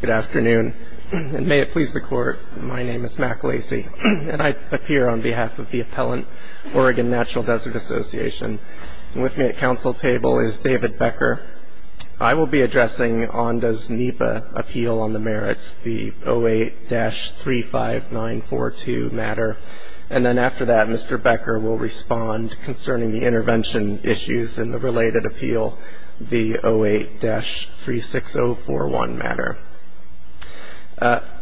Good afternoon, and may it please the Court, my name is Mac Lacy, and I appear on behalf of the appellant, Oregon Natural Desert Association. With me at council table is David Becker. I will be addressing ONDA's NEPA appeal on the merits, the 08-35942 matter. And then after that, Mr. Becker will respond concerning the intervention issues in the related appeal, the 08-36041 matter.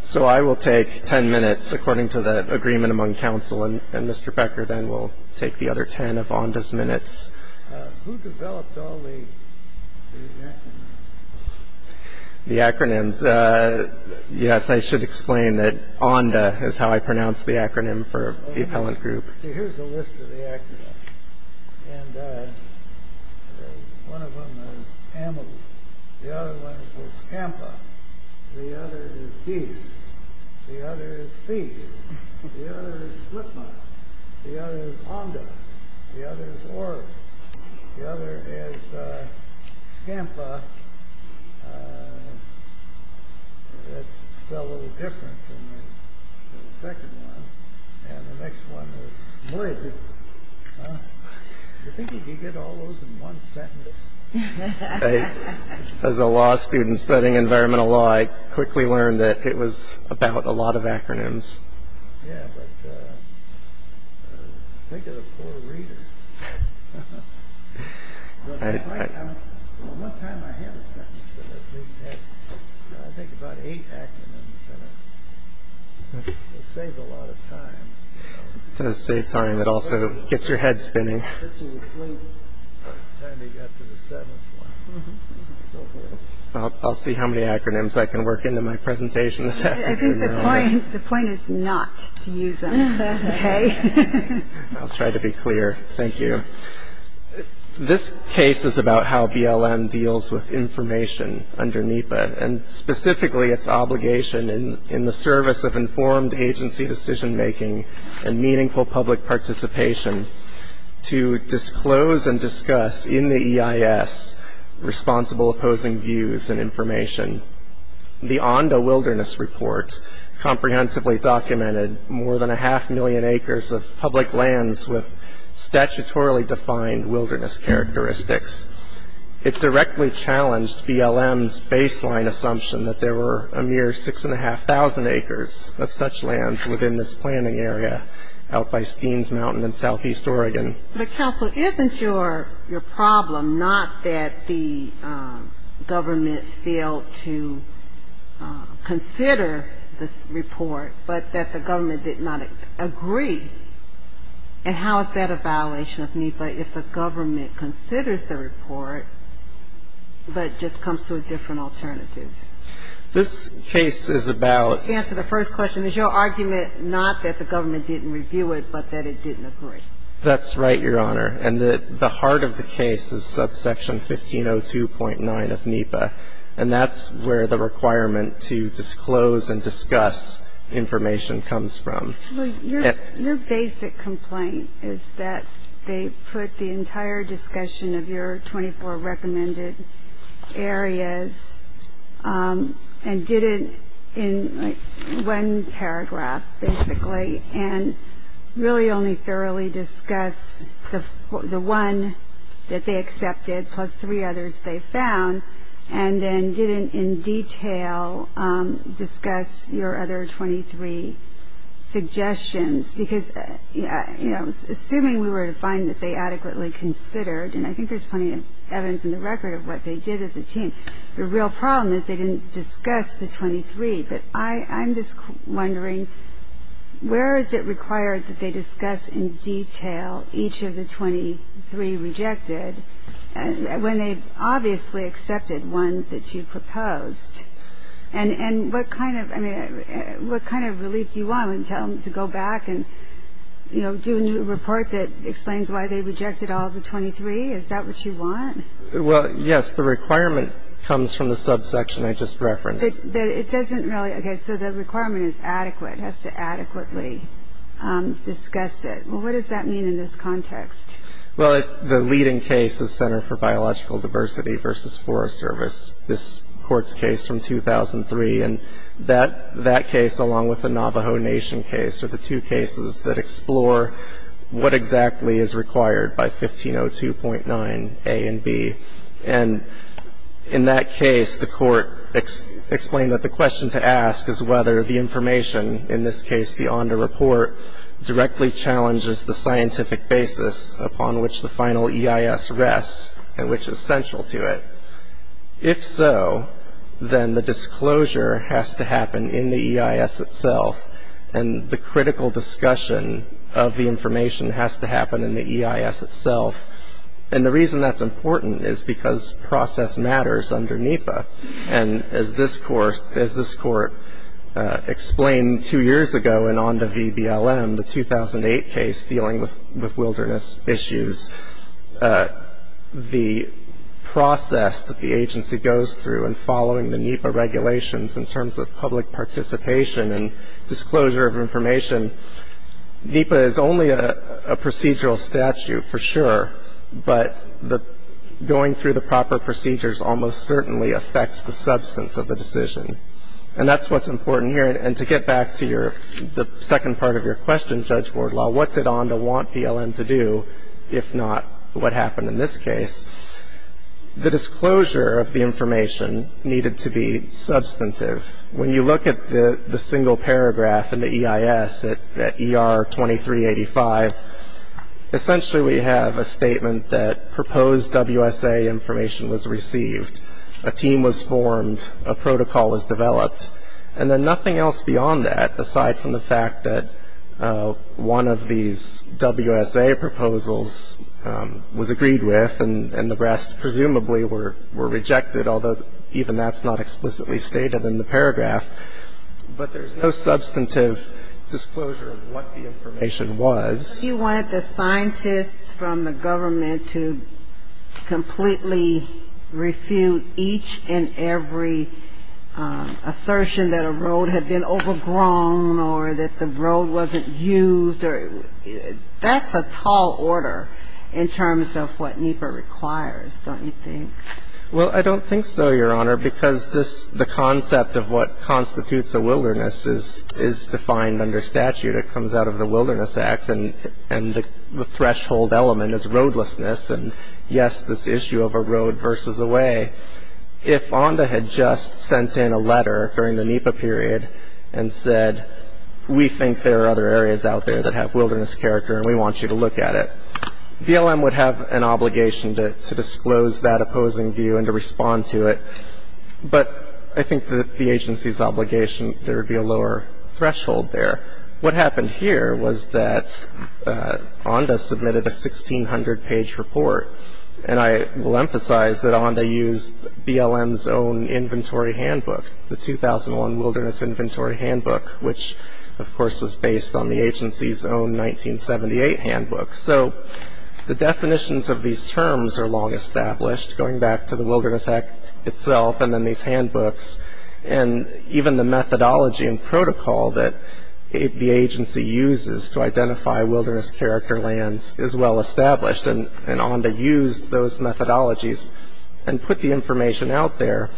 So I will take ten minutes according to the agreement among council, and Mr. Becker then will take the other ten of ONDA's minutes. Who developed all the acronyms? The acronyms. Yes, I should explain that ONDA is how I pronounce the acronym for the appellant group. See, here's a list of the acronyms. And one of them is amel. The other one is scampa. The other is geese. The other is feese. The other is flippa. The other is onda. The other is ora. The other is scampa. That's spelled a little different than the second one. And the next one is smud. Do you think you could get all those in one sentence? As a law student studying environmental law, I quickly learned that it was about a lot of acronyms. Yeah, but think of the poor reader. One time I had a sentence that at least had I think about eight acronyms in it. It saved a lot of time. It does save time. It also gets your head spinning. Gets you to sleep by the time you get to the seventh one. I'll see how many acronyms I can work into my presentation this afternoon. I think the point is not to use them, okay? I'll try to be clear. Thank you. This case is about how BLM deals with information under NEPA, and specifically its obligation in the service of informed agency decision-making and meaningful public participation to disclose and discuss in the EIS responsible opposing views and information. The Onda Wilderness Report comprehensively documented more than a half million acres of public lands with statutorily defined wilderness characteristics. It directly challenged BLM's baseline assumption that there were a mere 6,500 acres of such lands within this planning area out by Steens Mountain in southeast Oregon. But, counsel, isn't your problem not that the government failed to consider this report, but that the government did not agree? And how is that a violation of NEPA if the government considers the report, but just comes to a different alternative? This case is about the answer to the first question. Is your argument not that the government didn't review it, but that it didn't agree? That's right, Your Honor. And the heart of the case is subsection 1502.9 of NEPA, and that's where the requirement to disclose and discuss information comes from. Your basic complaint is that they put the entire discussion of your 24 recommended areas and did it in one paragraph, basically, and really only thoroughly discussed the one that they accepted plus three others they found, and then didn't in detail discuss your other 23 suggestions. Because, you know, assuming we were to find that they adequately considered, and I think there's plenty of evidence in the record of what they did as a team, the real problem is they didn't discuss the 23. But I'm just wondering where is it required that they discuss in detail each of the 23 rejected when they obviously accepted one that you proposed? And what kind of relief do you want? Would you tell them to go back and, you know, do a new report that explains why they rejected all of the 23? Is that what you want? Well, yes. The requirement comes from the subsection I just referenced. But it doesn't really. Okay. So the requirement is adequate, has to adequately discuss it. Well, what does that mean in this context? Well, the leading case is Center for Biological Diversity versus Forest Service, this Court's case from 2003. And that case, along with the Navajo Nation case, are the two cases that explore what exactly is required by 1502.9a and b. And in that case, the Court explained that the question to ask is whether the information, in this case the ONDA report, directly challenges the scientific basis upon which the final EIS rests and which is central to it. If so, then the disclosure has to happen in the EIS itself, and the critical discussion of the information has to happen in the EIS itself. And the reason that's important is because process matters under NEPA. And as this Court explained two years ago in ONDA v. BLM, the 2008 case dealing with wilderness issues, the process that the agency goes through in following the NEPA regulations in terms of public participation and disclosure of information, NEPA is only a procedural statute for sure, but going through the proper procedures almost certainly affects the substance of the decision. And that's what's important here. And to get back to the second part of your question, Judge Wardlaw, what did ONDA want BLM to do if not what happened in this case? The disclosure of the information needed to be substantive. When you look at the single paragraph in the EIS at ER 2385, essentially we have a statement that proposed WSA information was received, a team was formed, a protocol was developed, and then nothing else beyond that, aside from the fact that one of these WSA proposals was agreed with and the rest presumably were rejected, although even that's not explicitly stated in the paragraph. But there's no substantive disclosure of what the information was. But you wanted the scientists from the government to completely refute each and every assertion that a road had been overgrown or that the road wasn't used. That's a tall order in terms of what NEPA requires, don't you think? Well, I don't think so, Your Honor, because the concept of what constitutes a wilderness is defined under statute. It comes out of the Wilderness Act, and the threshold element is roadlessness, and yes, this issue of a road versus a way. If ONDA had just sent in a letter during the NEPA period and said, we think there are other areas out there that have wilderness character, and we want you to look at it, BLM would have an obligation to disclose that opposing view and to respond to it. But I think that the agency's obligation, there would be a lower threshold there. What happened here was that ONDA submitted a 1,600-page report, and I will emphasize that ONDA used BLM's own inventory handbook, the 2001 Wilderness Inventory Handbook, which, of course, was based on the agency's own 1978 handbook. So the definitions of these terms are long established, going back to the Wilderness Act itself and then these handbooks, and even the methodology and protocol that the agency uses to identify wilderness character lands is well established, and ONDA used those methodologies and put the information out there.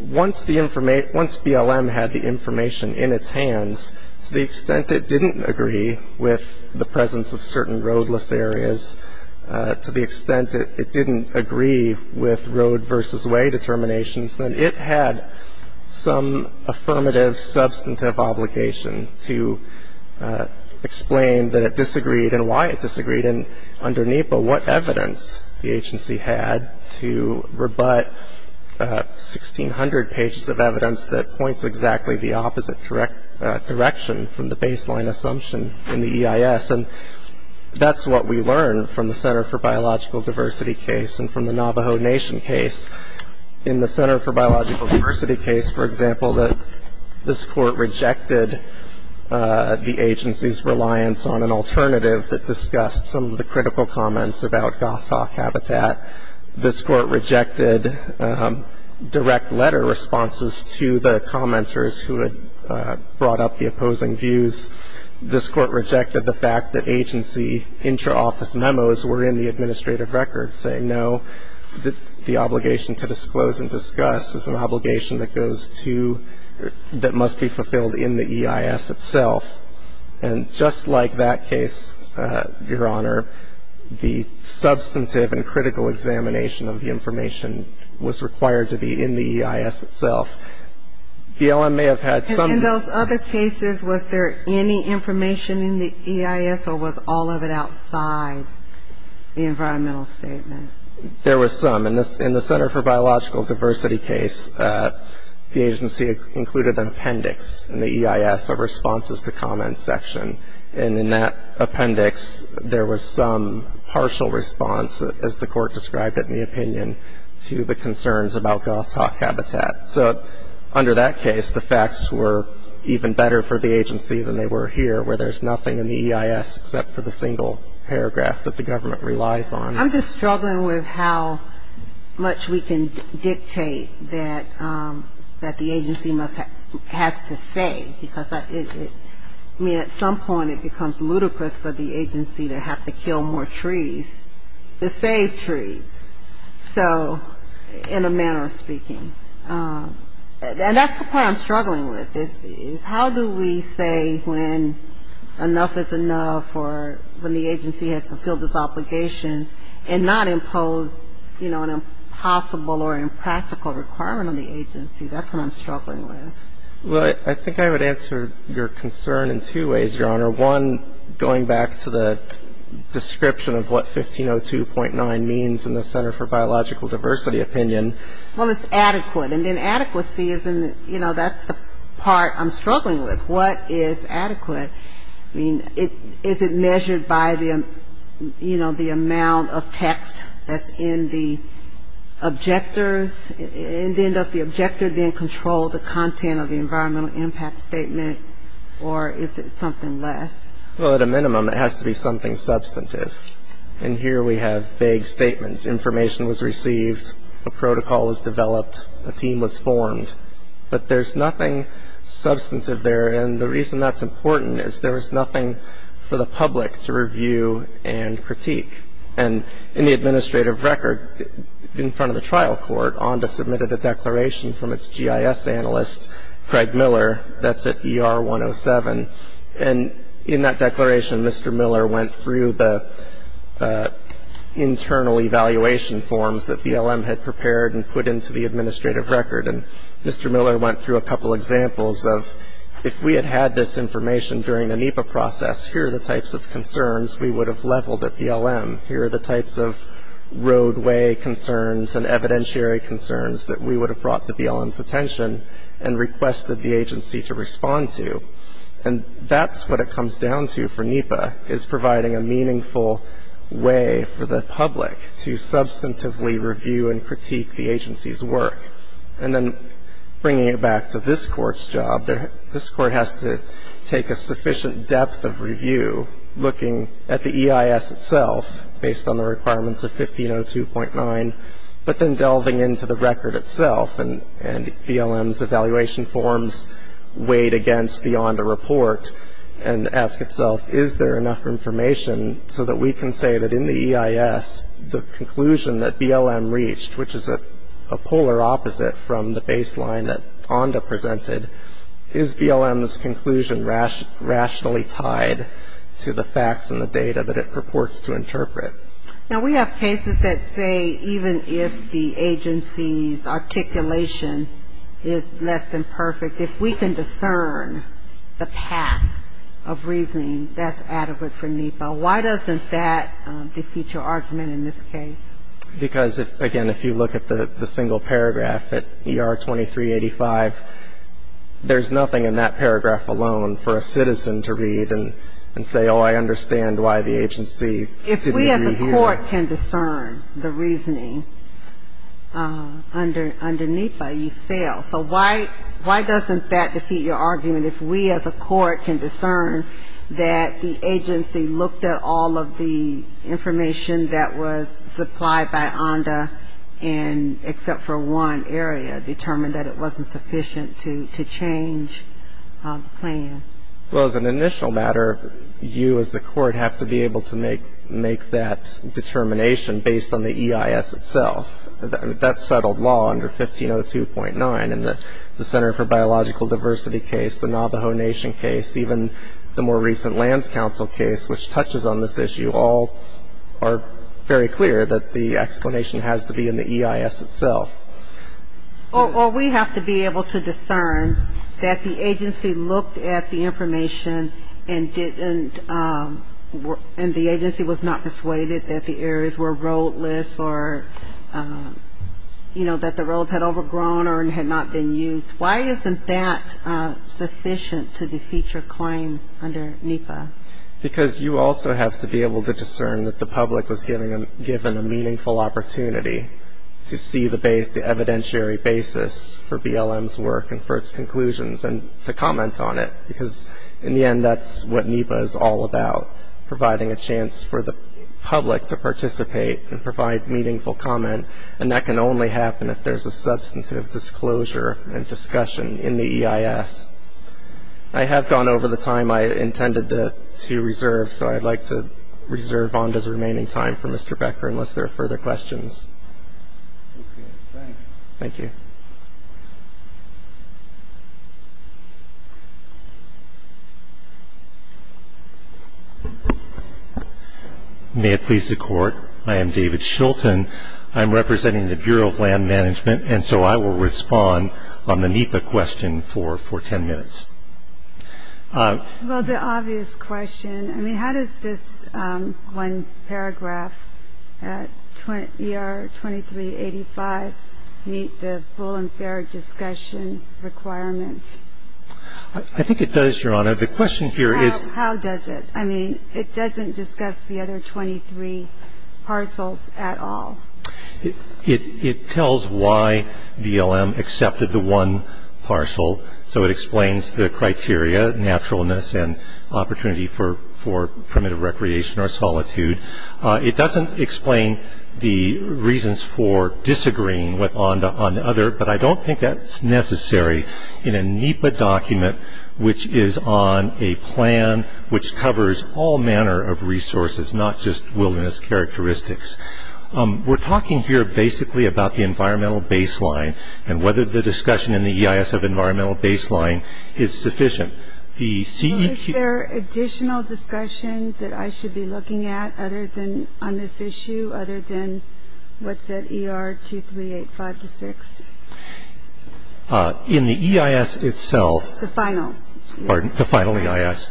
Once BLM had the information in its hands, to the extent it didn't agree with the presence of certain roadless areas, to the extent it didn't agree with road versus way determinations, then it had some affirmative substantive obligation to explain that it disagreed and why it disagreed and, under NEPA, what evidence the agency had to rebut 1,600 pages of evidence that points exactly the opposite direction from the baseline assumption in the EIS, and that's what we learned from the Center for Biological Diversity case and from the Navajo Nation case. In the Center for Biological Diversity case, for example, this court rejected the agency's reliance on an alternative that discussed some of the critical comments about goshawk habitat. This court rejected direct letter responses to the commenters who had brought up the opposing views. This court rejected the fact that agency intra-office memos were in the administrative record saying, no, the obligation to disclose and discuss is an obligation that goes to, that must be fulfilled in the EIS itself, and just like that case, Your Honor, the substantive and critical examination of the information was required to be in the EIS itself. The LM may have had some of those. In those other cases, was there any information in the EIS or was all of it outside the environmental statement? There was some. In the Center for Biological Diversity case, the agency included an appendix in the EIS of responses to comment section, and in that appendix, there was some partial response, as the court described it in the opinion, to the concerns about goshawk habitat. So under that case, the facts were even better for the agency than they were here, where there's nothing in the EIS except for the single paragraph that the government relies on. I'm just struggling with how much we can dictate that the agency has to say, because I mean at some point it becomes ludicrous for the agency to have to kill more trees to save trees. So in a manner of speaking. And that's the part I'm struggling with is how do we say when enough is enough or when the agency has fulfilled its obligation and not impose, you know, an impossible or impractical requirement on the agency. That's what I'm struggling with. Well, I think I would answer your concern in two ways, Your Honor. One, going back to the description of what 1502.9 means in the Center for Biological Diversity opinion. Well, it's adequate. And then adequacy isn't, you know, that's the part I'm struggling with. What is adequate? I mean, is it measured by the, you know, the amount of text that's in the objectors? And then does the objector then control the content of the environmental impact statement or is it something less? Well, at a minimum it has to be something substantive. And here we have vague statements. Information was received. A protocol was developed. A team was formed. But there's nothing substantive there. And the reason that's important is there is nothing for the public to review and critique. And in the administrative record in front of the trial court, ONDA submitted a declaration from its GIS analyst, Craig Miller, that's at ER 107. And in that declaration, Mr. Miller went through the internal evaluation forms that BLM had prepared and put into the administrative record. And Mr. Miller went through a couple examples of if we had had this information during the NEPA process, here are the types of concerns we would have leveled at BLM. Here are the types of roadway concerns and evidentiary concerns that we would have brought to BLM's attention and requested the agency to respond to. And that's what it comes down to for NEPA, is providing a meaningful way for the public to substantively review and critique the agency's work. And then bringing it back to this court's job, this court has to take a sufficient depth of review looking at the EIS itself, based on the requirements of 1502.9, but then delving into the record itself and BLM's evaluation forms weighed against the ONDA report and ask itself, is there enough information so that we can say that in the EIS, the conclusion that BLM reached, which is a polar opposite from the baseline that ONDA presented, is BLM's conclusion rationally tied to the facts and the data that it purports to interpret? Now, we have cases that say even if the agency's articulation is less than perfect, if we can discern the path of reasoning, that's adequate for NEPA. Why doesn't that defeat your argument in this case? Because, again, if you look at the single paragraph at ER 2385, there's nothing in that paragraph alone for a citizen to read and say, oh, I understand why the agency didn't agree here. If we as a court can discern the reasoning under NEPA, you fail. So why doesn't that defeat your argument if we as a court can discern that the agency looked at all of the information that was supplied by ONDA and except for one area determined that it wasn't sufficient to change the plan? Well, as an initial matter, you as the court have to be able to make that determination based on the EIS itself. That's settled law under 1502.9. And the Center for Biological Diversity case, the Navajo Nation case, even the more recent Lands Council case, which touches on this issue, all are very clear that the explanation has to be in the EIS itself. Well, we have to be able to discern that the agency looked at the information and didn't and the agency was not persuaded that the areas were roadless or, you know, that the roads had overgrown or had not been used. Why isn't that sufficient to defeat your claim under NEPA? Because you also have to be able to discern that the public was given a meaningful opportunity to see the evidentiary basis for BLM's work and for its conclusions and to comment on it. Because in the end, that's what NEPA is all about, providing a chance for the public to participate and provide meaningful comment. And that can only happen if there's a substantive disclosure and discussion in the EIS. I have gone over the time I intended to reserve, so I'd like to reserve ONDA's remaining time for Mr. Becker unless there are further questions. Thank you. May it please the Court, I am David Shulton. I'm representing the Bureau of Land Management, and so I will respond on the NEPA question for ten minutes. Well, the obvious question, I mean, how does this one paragraph at ER 2385 meet the full and fair discussion requirement? I think it does, Your Honor. The question here is How does it? I mean, it doesn't discuss the other 23 parcels at all. It tells why BLM accepted the one parcel, so it explains the criteria, naturalness, and opportunity for primitive recreation or solitude. It doesn't explain the reasons for disagreeing with ONDA on the other, but I don't think that's necessary in a NEPA document which is on a plan which covers all manner of resources, not just wilderness characteristics. We're talking here basically about the environmental baseline and whether the discussion in the EIS of environmental baseline is sufficient. Well, is there additional discussion that I should be looking at on this issue other than what's at ER 2385-6? In the EIS itself, the final EIS,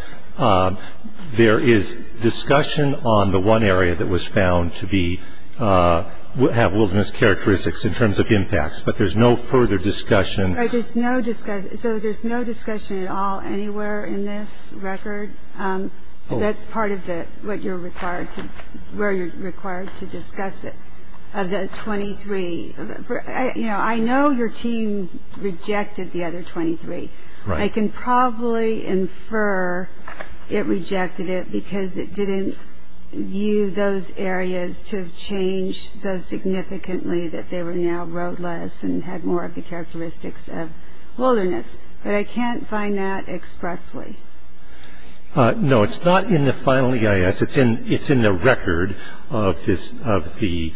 there is discussion on the one area that was found to be have wilderness characteristics in terms of impacts, but there's no further discussion. Right. There's no discussion. So there's no discussion at all anywhere in this record. That's part of what you're required to, where you're required to discuss it. Of the 23, you know, I know your team rejected the other 23. Right. I can probably infer it rejected it because it didn't view those areas to have changed so significantly that they were now roadless and had more of the characteristics of wilderness. But I can't find that expressly. No, it's not in the final EIS. It's in the record of the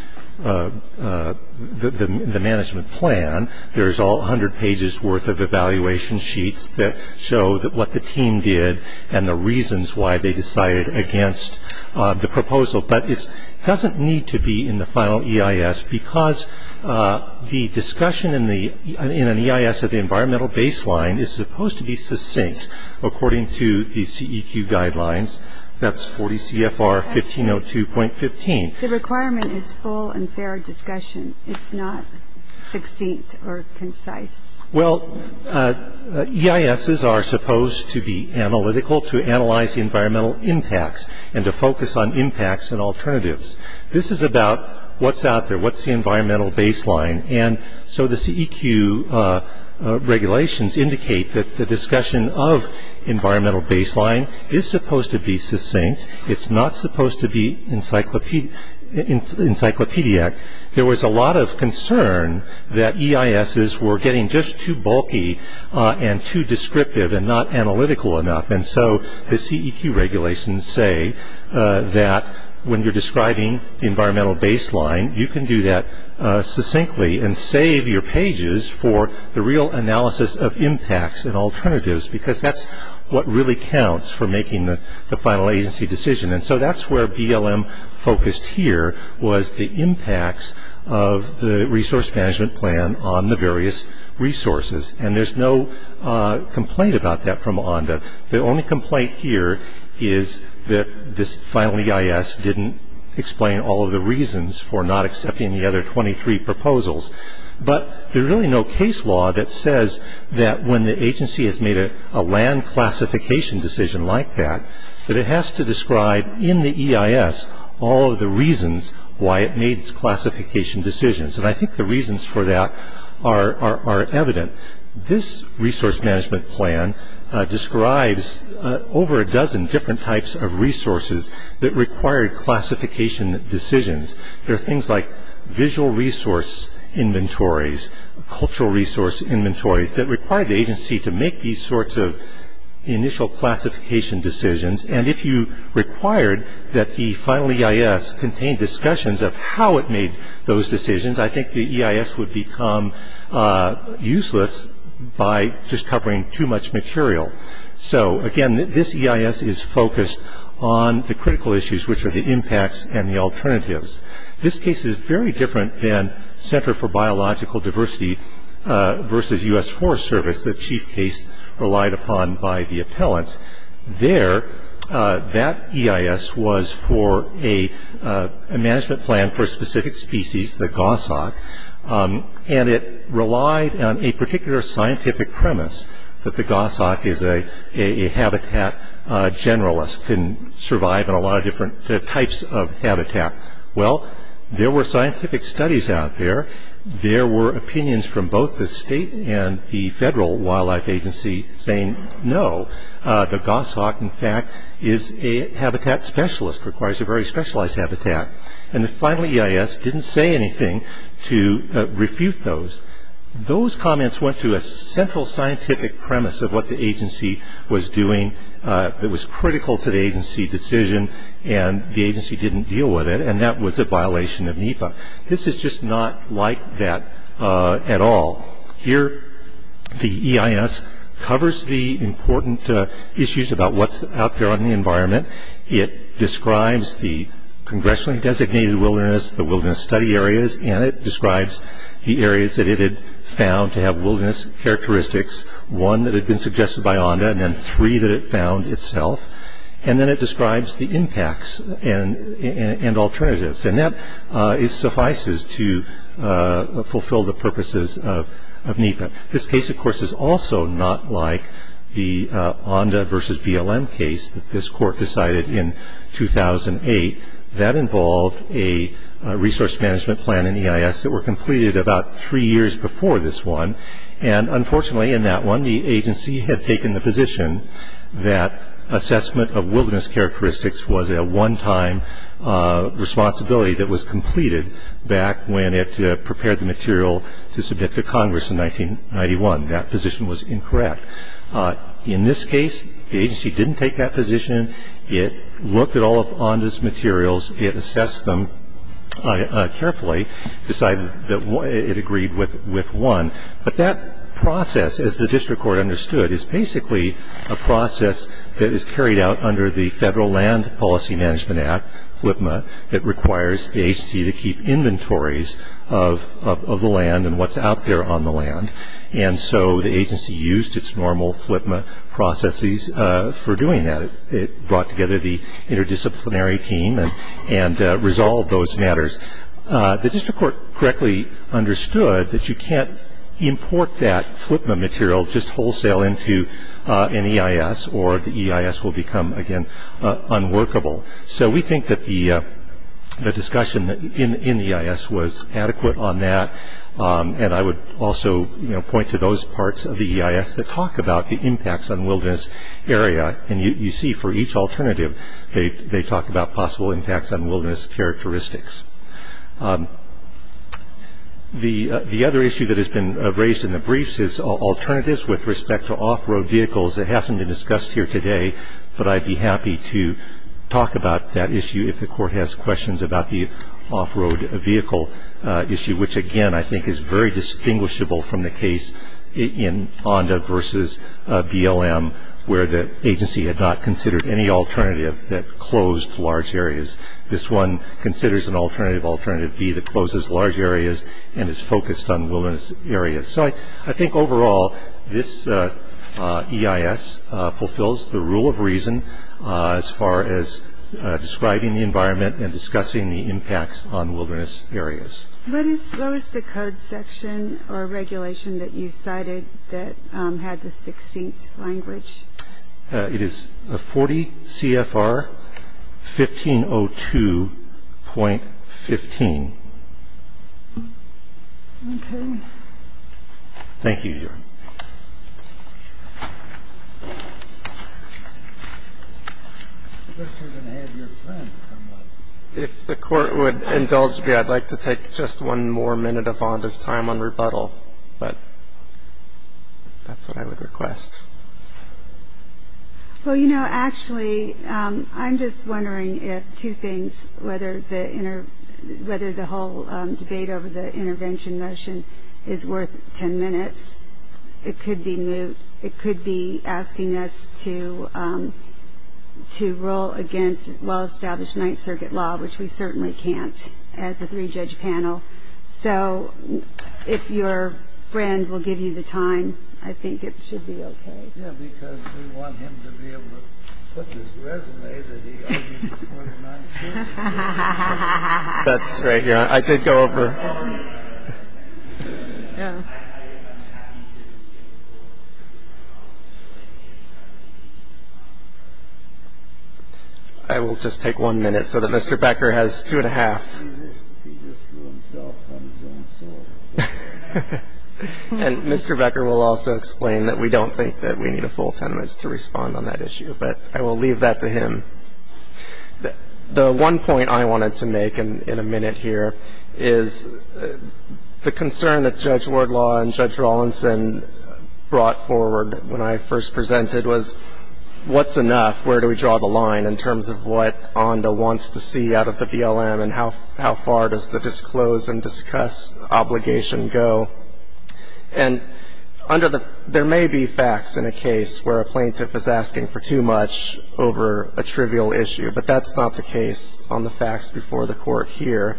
management plan. There's all 100 pages worth of evaluation sheets that show what the team did and the reasons why they decided against the proposal. But it doesn't need to be in the final EIS because the discussion in an EIS at the environmental baseline is supposed to be succinct according to the CEQ guidelines. That's 40 CFR 1502.15. The requirement is full and fair discussion. It's not succinct or concise. Well, EISs are supposed to be analytical to analyze the environmental impacts and to focus on impacts and alternatives. This is about what's out there, what's the environmental baseline. And so the CEQ regulations indicate that the discussion of environmental baseline is supposed to be succinct. It's not supposed to be encyclopedic. There was a lot of concern that EISs were getting just too bulky and too descriptive and not analytical enough. And so the CEQ regulations say that when you're describing environmental baseline, you can do that succinctly and save your pages for the real analysis of impacts and alternatives because that's what really counts for making the final agency decision. And so that's where BLM focused here was the impacts of the resource management plan on the various resources. And there's no complaint about that from ONDA. The only complaint here is that this final EIS didn't explain all of the reasons for not accepting the other 23 proposals. But there's really no case law that says that when the agency has made a land classification decision like that, that it has to describe in the EIS all of the reasons why it made its classification decisions. And I think the reasons for that are evident. This resource management plan describes over a dozen different types of resources that require classification decisions. There are things like visual resource inventories, cultural resource inventories, that require the agency to make these sorts of initial classification decisions. And if you required that the final EIS contain discussions of how it made those decisions, I think the EIS would become useless by just covering too much material. So, again, this EIS is focused on the critical issues, which are the impacts and the alternatives. This case is very different than Center for Biological Diversity versus U.S. Forest Service, the chief case relied upon by the appellants. There, that EIS was for a management plan for a specific species, the goshawk. And it relied on a particular scientific premise that the goshawk is a habitat generalist, can survive in a lot of different types of habitat. Well, there were scientific studies out there. There were opinions from both the state and the federal wildlife agency saying no. The goshawk, in fact, is a habitat specialist, requires a very specialized habitat. And the final EIS didn't say anything to refute those. Those comments went to a central scientific premise of what the agency was doing that was critical to the agency decision, and the agency didn't deal with it, and that was a violation of NEPA. This is just not like that at all. Here, the EIS covers the important issues about what's out there on the environment. It describes the congressionally designated wilderness, the wilderness study areas, and it describes the areas that it had found to have wilderness characteristics, one that had been suggested by ONDA and then three that it found itself. And then it describes the impacts and alternatives. And that suffices to fulfill the purposes of NEPA. This case, of course, is also not like the ONDA versus BLM case that this court decided in 2008. That involved a resource management plan in EIS that were completed about three years before this one. And unfortunately, in that one, the agency had taken the position that assessment of wilderness characteristics was a one-time responsibility that was completed back when it prepared the material to submit to Congress in 1991. That position was incorrect. In this case, the agency didn't take that position. It looked at all of ONDA's materials. It assessed them carefully, decided that it agreed with one. But that process, as the district court understood, is basically a process that is carried out under the Federal Land Policy Management Act, FLPMA, that requires the agency to keep inventories of the land and what's out there on the land. And so the agency used its normal FLPMA processes for doing that. It brought together the interdisciplinary team and resolved those matters. The district court correctly understood that you can't import that FLPMA material just wholesale into an EIS, or the EIS will become, again, unworkable. So we think that the discussion in the EIS was adequate on that. And I would also point to those parts of the EIS that talk about the impacts on wilderness area. And you see for each alternative, they talk about possible impacts on wilderness characteristics. The other issue that has been raised in the briefs is alternatives with respect to off-road vehicles. It hasn't been discussed here today, but I'd be happy to talk about that issue if the court has questions about the off-road vehicle issue, which, again, I think is very distinguishable from the case in ONDA versus BLM, where the agency had not considered any alternative that closed large areas. This one considers an alternative, alternative B, that closes large areas and is focused on wilderness areas. So I think overall, this EIS fulfills the rule of reason as far as describing the environment and discussing the impacts on wilderness areas. What was the code section or regulation that you cited that had the succinct language? It is 40 CFR 1502.15. Okay. Thank you, Your Honor. If the court would indulge me, I'd like to take just one more minute of ONDA's time on rebuttal, but that's what I would request. Well, you know, actually, I'm just wondering if two things, whether the whole debate over the intervention motion is worth ten minutes. It could be asking us to rule against well-established Ninth Circuit law, which we certainly can't as a three-judge panel. So if your friend will give you the time, I think it should be okay. Yeah, because we want him to be able to put his resume that he argued before the Ninth Circuit. That's right, Your Honor. I did go over. I will just take one minute so that Mr. Becker has two and a half. He just threw himself on his own sword. And Mr. Becker will also explain that we don't think that we need a full ten minutes to respond on that issue, but I will leave that to him. The one point I wanted to make in a minute here is the concern that Judge Wardlaw and Judge Rawlinson brought forward when I first presented was what's enough, where do we draw the line in terms of what ONDA wants to see out of the BLM and how far does the disclose and discuss obligation go. And under the – there may be facts in a case where a plaintiff is asking for too much over a trivial issue, but that's not the case on the facts before the Court here.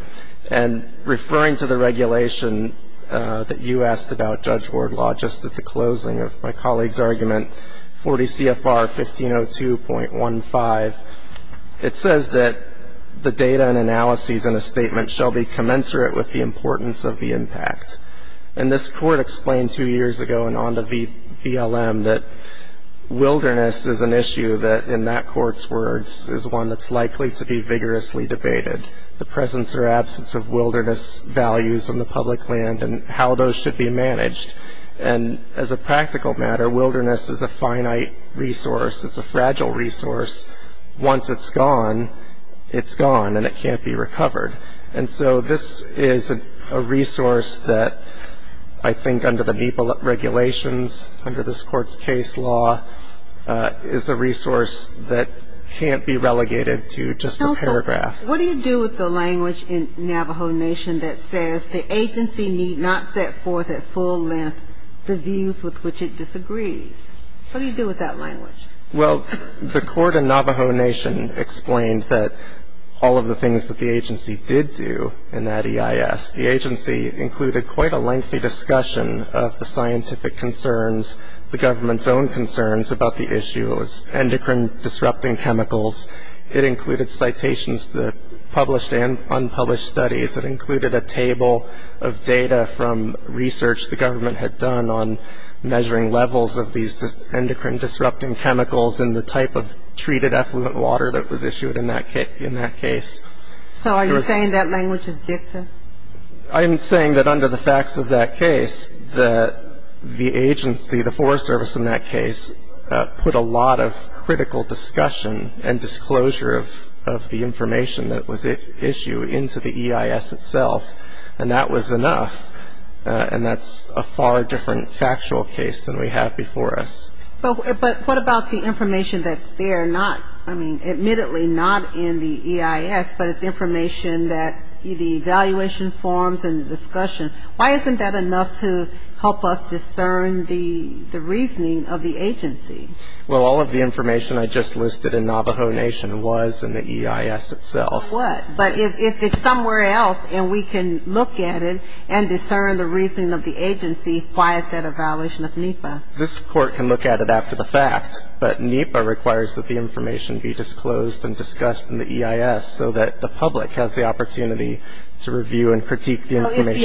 And referring to the regulation that you asked about, Judge Wardlaw, just at the closing of my colleague's argument, 40 CFR 1502.15, it says that the data and analyses in a statement shall be commensurate with the importance of the impact. And this Court explained two years ago in ONDA BLM that wilderness is an issue that, in that Court's words, is one that's likely to be vigorously debated, the presence or absence of wilderness values in the public land and how those should be managed. And as a practical matter, wilderness is a finite resource. It's a fragile resource. Once it's gone, it's gone and it can't be recovered. And so this is a resource that I think under the MEPA regulations, under this Court's case law, is a resource that can't be relegated to just a paragraph. What do you do with the language in Navajo Nation that says, the agency need not set forth at full length the views with which it disagrees? What do you do with that language? Well, the Court in Navajo Nation explained that all of the things that the agency did do in that EIS, the agency included quite a lengthy discussion of the scientific concerns, the government's own concerns about the issues, endocrine-disrupting chemicals. It included citations to published and unpublished studies. It included a table of data from research the government had done on measuring levels of these endocrine-disrupting chemicals and the type of treated effluent water that was issued in that case. So are you saying that language is gifted? I'm saying that under the facts of that case, that the agency, the Forest Service in that case, put a lot of critical discussion and disclosure of the information that was at issue into the EIS itself, and that was enough, and that's a far different factual case than we have before us. But what about the information that's there, not, I mean, admittedly not in the EIS, but it's information that the evaluation forms and discussion, why isn't that enough to help us discern the reasoning of the agency? Well, all of the information I just listed in Navajo Nation was in the EIS itself. But if it's somewhere else and we can look at it and discern the reasoning of the agency, why is that a violation of NEPA? This Court can look at it after the fact, but NEPA requires that the information be disclosed and discussed in the EIS So if the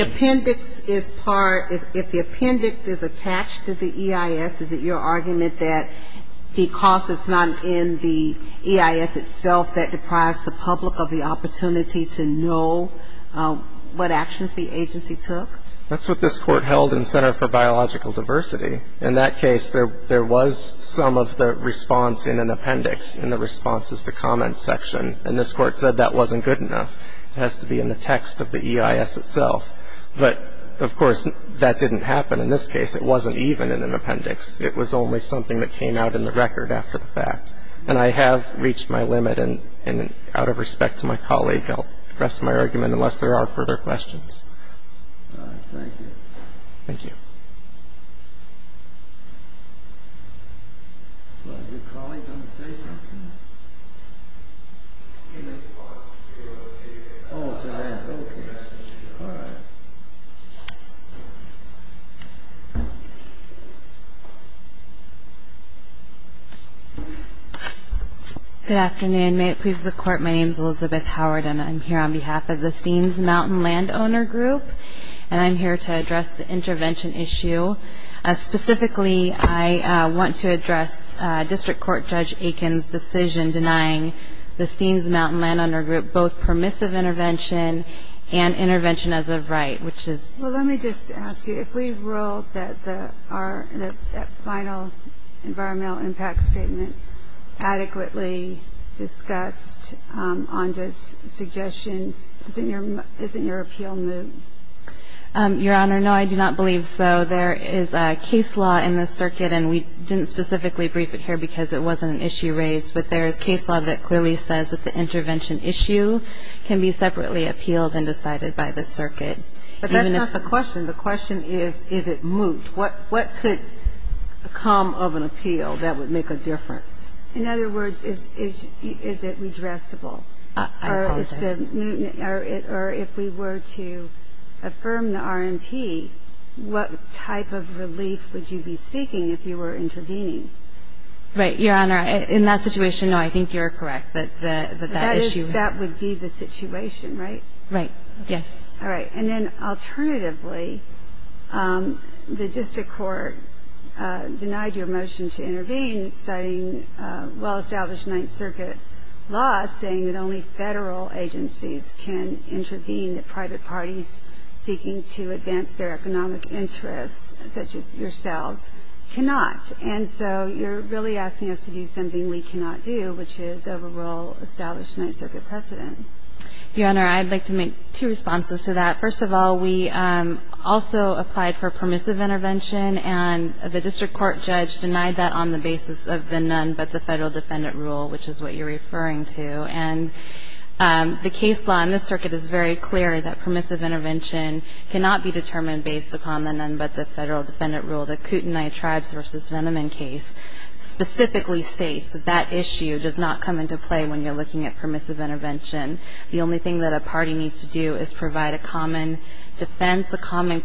appendix is part, if the appendix is attached to the EIS, is it your argument that because it's not in the EIS itself, that deprives the public of the opportunity to know what actions the agency took? That's what this Court held in Center for Biological Diversity. In that case, there was some of the response in an appendix, in the responses to comments section, and this Court said that wasn't good enough. It has to be in the text of the EIS itself. But, of course, that didn't happen in this case. It wasn't even in an appendix. It was only something that came out in the record after the fact. And I have reached my limit, and out of respect to my colleague, I'll rest my argument unless there are further questions. Thank you. Thank you. Is your colleague going to say something? Oh, she has. Okay. All right. Good afternoon. May it please the Court, my name is Elizabeth Howard, and I'm here on behalf of the Steens Mountain Landowner Group, and I'm here to address the intervention issue. Specifically, I want to address District Court Judge Aiken's decision denying the Steens Mountain Landowner Group both permissive intervention and intervention as of right, which is? Well, let me just ask you, if we ruled that our final environmental impact statement adequately discussed on this suggestion, isn't your appeal moot? Your Honor, no, I do not believe so. There is a case law in the circuit, and we didn't specifically brief it here because it wasn't an issue raised, but there is case law that clearly says that the intervention issue can be separately appealed and decided by the circuit. But that's not the question. The question is, is it moot? What could come of an appeal that would make a difference? In other words, is it redressable? I apologize. Or if we were to affirm the RMP, what type of relief would you be seeking if you were intervening? Right, Your Honor. In that situation, no, I think you're correct that that issue. That would be the situation, right? Right. Yes. All right. And then alternatively, the District Court denied your motion to intervene, citing well-established Ninth Circuit law, saying that only federal agencies can intervene. The private parties seeking to advance their economic interests, such as yourselves, cannot. And so you're really asking us to do something we cannot do, which is overrule established Ninth Circuit precedent. Your Honor, I'd like to make two responses to that. First of all, we also applied for permissive intervention, and the District Court judge denied that on the basis of the none-but-the-federal-defendant rule, which is what you're referring to. And the case law in this circuit is very clear that permissive intervention cannot be determined based upon the none-but-the-federal-defendant rule. The Kootenai Tribes v. Venneman case specifically states that that issue does not come into play when you're looking at permissive intervention. The only thing that a party needs to do is provide a common defense, and that's a common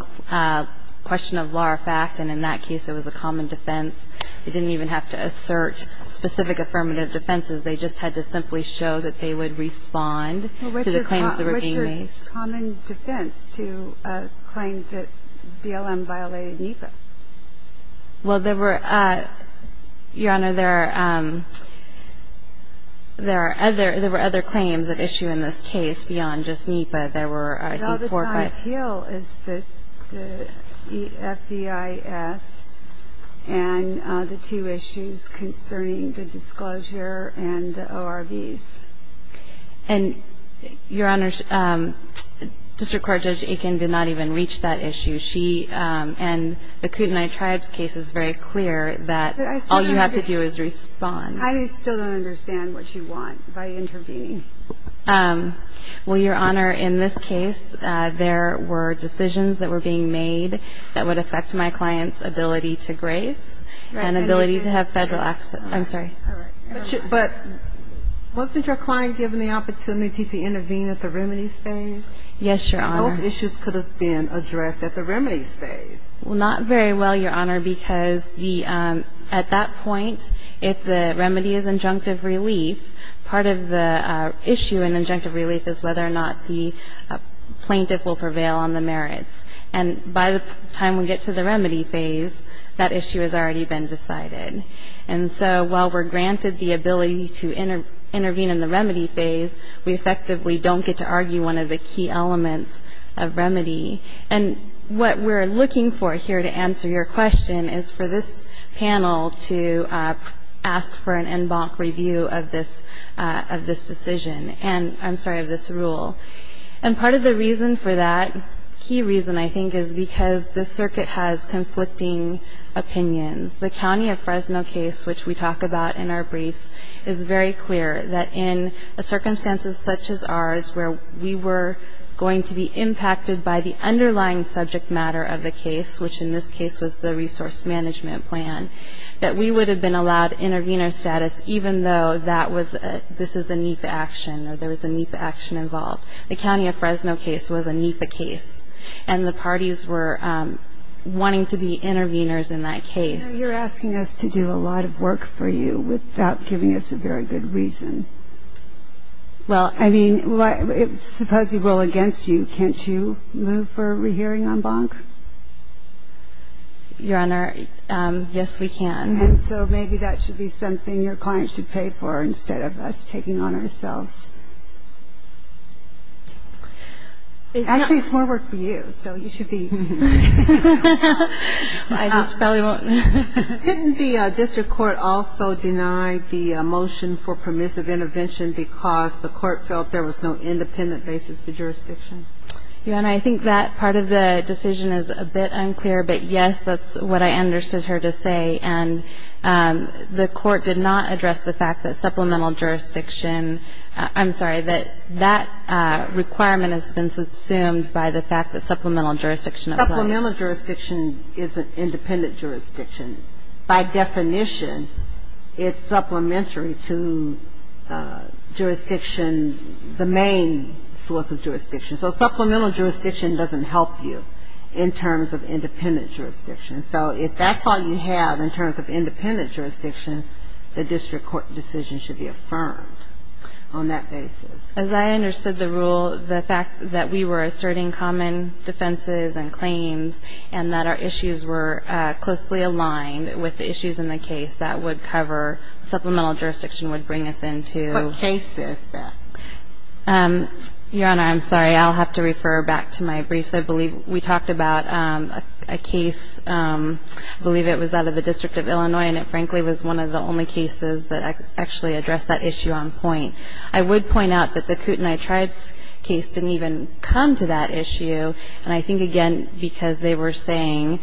question of law or fact. And in that case, it was a common defense. They didn't even have to assert specific affirmative defenses. They just had to simply show that they would respond to the claims that were being made. Well, what's your common defense to claim that BLM violated NEPA? Well, there were other claims at issue in this case beyond just NEPA. There were, I think, four or five. One of them was that BLM violated NEPA. The other one was that BLM violated NEPA. And the appeal is the FBIS and the two issues concerning the disclosure and the ORVs. And, Your Honor, District Court Judge Aiken did not even reach that issue. She and the Kootenai Tribes case is very clear that all you have to do is respond. I still don't understand what you want by intervening. Well, Your Honor, in this case, there were decisions that were being made that would affect my client's ability to grace and ability to have federal access. I'm sorry. But wasn't your client given the opportunity to intervene at the remedy stage? Yes, Your Honor. Those issues could have been addressed at the remedy stage. Well, not very well, Your Honor, because at that point, if the remedy is injunctive relief, part of the issue in injunctive relief is whether or not the plaintiff will prevail on the merits. And by the time we get to the remedy phase, that issue has already been decided. And so while we're granted the ability to intervene in the remedy phase, we effectively don't get to argue one of the key elements of remedy. And what we're looking for here to answer your question is for this panel to ask for an en banc review of this decision and, I'm sorry, of this rule. And part of the reason for that, key reason, I think, is because the circuit has conflicting opinions. The County of Fresno case, which we talk about in our briefs, is very clear that in circumstances such as ours, where we were going to be impacted by the underlying subject matter of the case, which in this case was the resource management plan, that we would have been allowed intervener status even though that was a, this is a NEPA action or there was a NEPA action involved. The County of Fresno case was a NEPA case. And the parties were wanting to be interveners in that case. I know you're asking us to do a lot of work for you without giving us a very good reason. Well, I mean, suppose we roll against you. Can't you move for a hearing en banc? Your Honor, yes, we can. And so maybe that should be something your client should pay for instead of us taking on ourselves. Actually, it's more work for you, so you should be. I just probably won't. Couldn't the district court also deny the motion for permissive intervention because the court felt there was no independent basis for jurisdiction? Your Honor, I think that part of the decision is a bit unclear. But, yes, that's what I understood her to say. And the court did not address the fact that supplemental jurisdiction, I'm sorry, that that requirement has been subsumed by the fact that supplemental jurisdiction applies. Supplemental jurisdiction is an independent jurisdiction. By definition, it's supplementary to jurisdiction, the main source of jurisdiction. So supplemental jurisdiction doesn't help you in terms of independent jurisdiction. So if that's all you have in terms of independent jurisdiction, the district court decision should be affirmed on that basis. As I understood the rule, the fact that we were asserting common defenses and claims and that our issues were closely aligned with the issues in the case, that would cover supplemental jurisdiction would bring us into the case. What case is that? Your Honor, I'm sorry. I'll have to refer back to my briefs. I believe we talked about a case, I believe it was out of the District of Illinois, and it frankly was one of the only cases that actually addressed that issue on point. I would point out that the Kootenai Tribes case didn't even come to that issue. And I think, again, because they were saying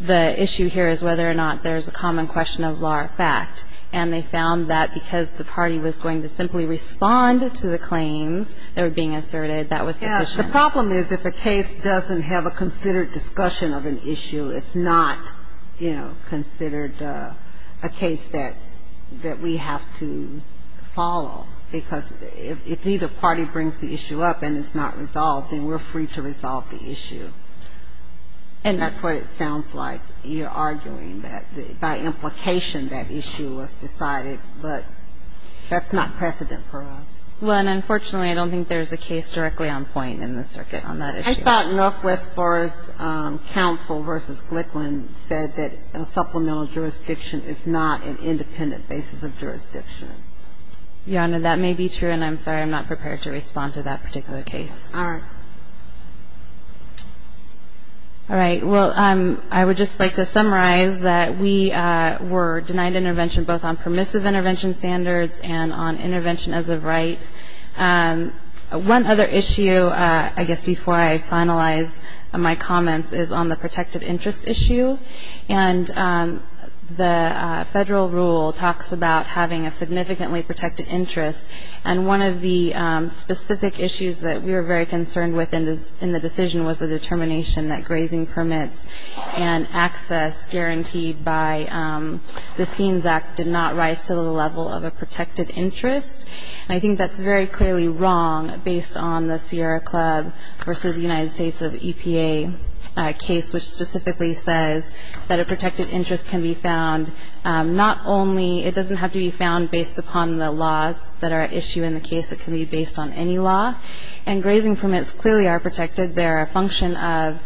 the issue here is whether or not there's a common question of law or fact. And they found that because the party was going to simply respond to the claims that were being asserted, that was sufficient. The problem is if a case doesn't have a considered discussion of an issue, it's not, you know, considered a case that we have to follow, because if neither party brings the issue up and it's not resolved, then we're free to resolve the issue. And that's what it sounds like. You're arguing that by implication that issue was decided, but that's not precedent for us. Well, and unfortunately, I don't think there's a case directly on point in the circuit on that issue. I thought Northwest Forest Council v. Glickman said that a supplemental jurisdiction is not an independent basis of jurisdiction. Your Honor, that may be true, and I'm sorry, I'm not prepared to respond to that particular case. All right. All right. Well, I would just like to summarize that we were denied intervention both on permissive intervention standards and on intervention as a right. One other issue, I guess before I finalize my comments, is on the protected interest issue. And the federal rule talks about having a significantly protected interest, and one of the specific issues that we were very concerned with in the decision was the determination that grazing And I think that's very clearly wrong based on the Sierra Club v. United States of EPA case, which specifically says that a protected interest can be found not only, it doesn't have to be found based upon the laws that are at issue in the case. It can be based on any law. And grazing permits clearly are protected. They're a function of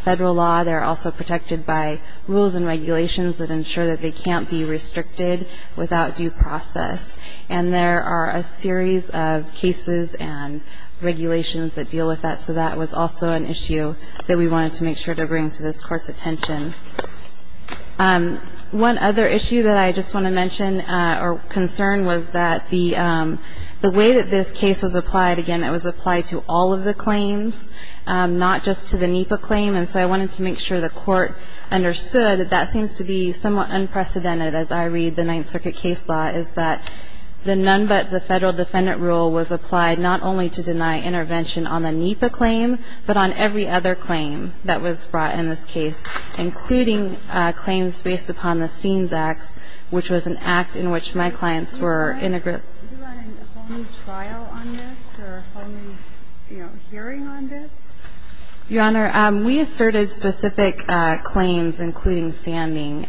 federal law. They're also protected by rules and regulations that ensure that they can't be restricted without due process. And there are a series of cases and regulations that deal with that, so that was also an issue that we wanted to make sure to bring to this Court's attention. One other issue that I just want to mention or concern was that the way that this case was applied, again, it was applied to all of the claims, not just to the NEPA claim. And so I wanted to make sure the Court understood that that seems to be somewhat unprecedented as I read the Ninth Circuit case law, is that the none but the federal defendant rule was applied not only to deny intervention on the NEPA claim, but on every other claim that was brought in this case, including claims based upon the SEANS Act, which was an act in which my clients were integrated. Do you want a whole new trial on this or a whole new hearing on this? Your Honor, we asserted specific claims, including standing,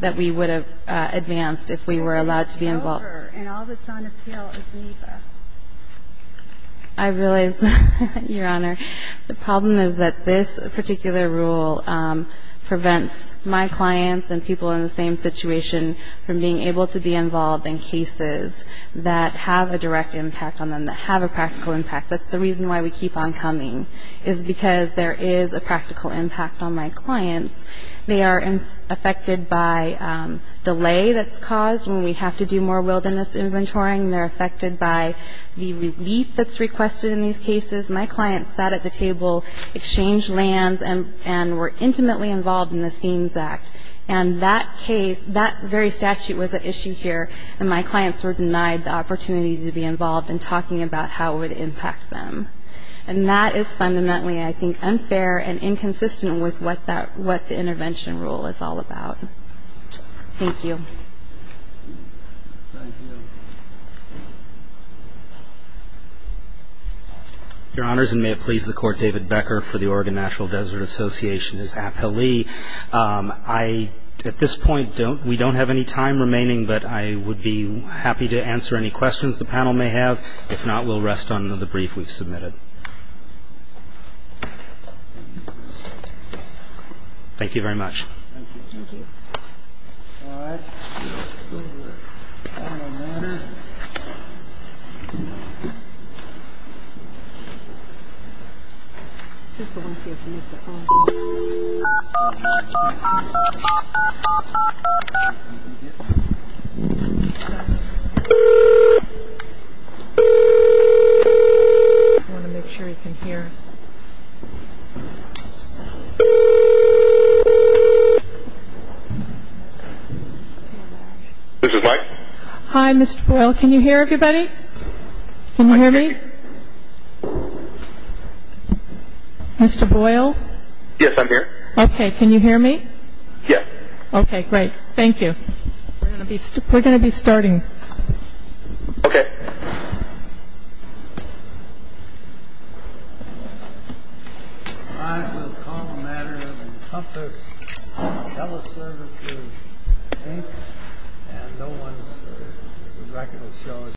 that we would have advanced if we were allowed to be involved. And all that's on appeal is NEPA. I realize that, Your Honor. The problem is that this particular rule prevents my clients and people in the same situation from being able to be involved in cases that have a direct impact on them, that have a practical impact. That's the reason why we keep on coming, is because there is a practical impact on my clients. They are affected by delay that's caused when we have to do more wilderness inventorying. They're affected by the relief that's requested in these cases. My clients sat at the table, exchanged lands, and were intimately involved in the SEANS Act. And that case, that very statute was at issue here, and my clients were denied the opportunity to be involved in talking about how it would impact them. And that is fundamentally, I think, unfair and inconsistent with what the intervention rule is all about. Thank you. Thank you. Your Honors, and may it please the Court, David Becker for the Oregon Natural Desert Association is appealee. At this point, we don't have any time remaining, but I would be happy to answer any questions the panel may have. If not, we'll rest on the brief we've submitted. Thank you very much. I want to make sure you can hear. Hi, Mr. Boyle. Can you hear everybody? Can you hear me? Mr. Boyle? Yes, I'm here. Okay. Can you hear me? Yes. Okay, great. Thank you. We're going to be starting. Okay.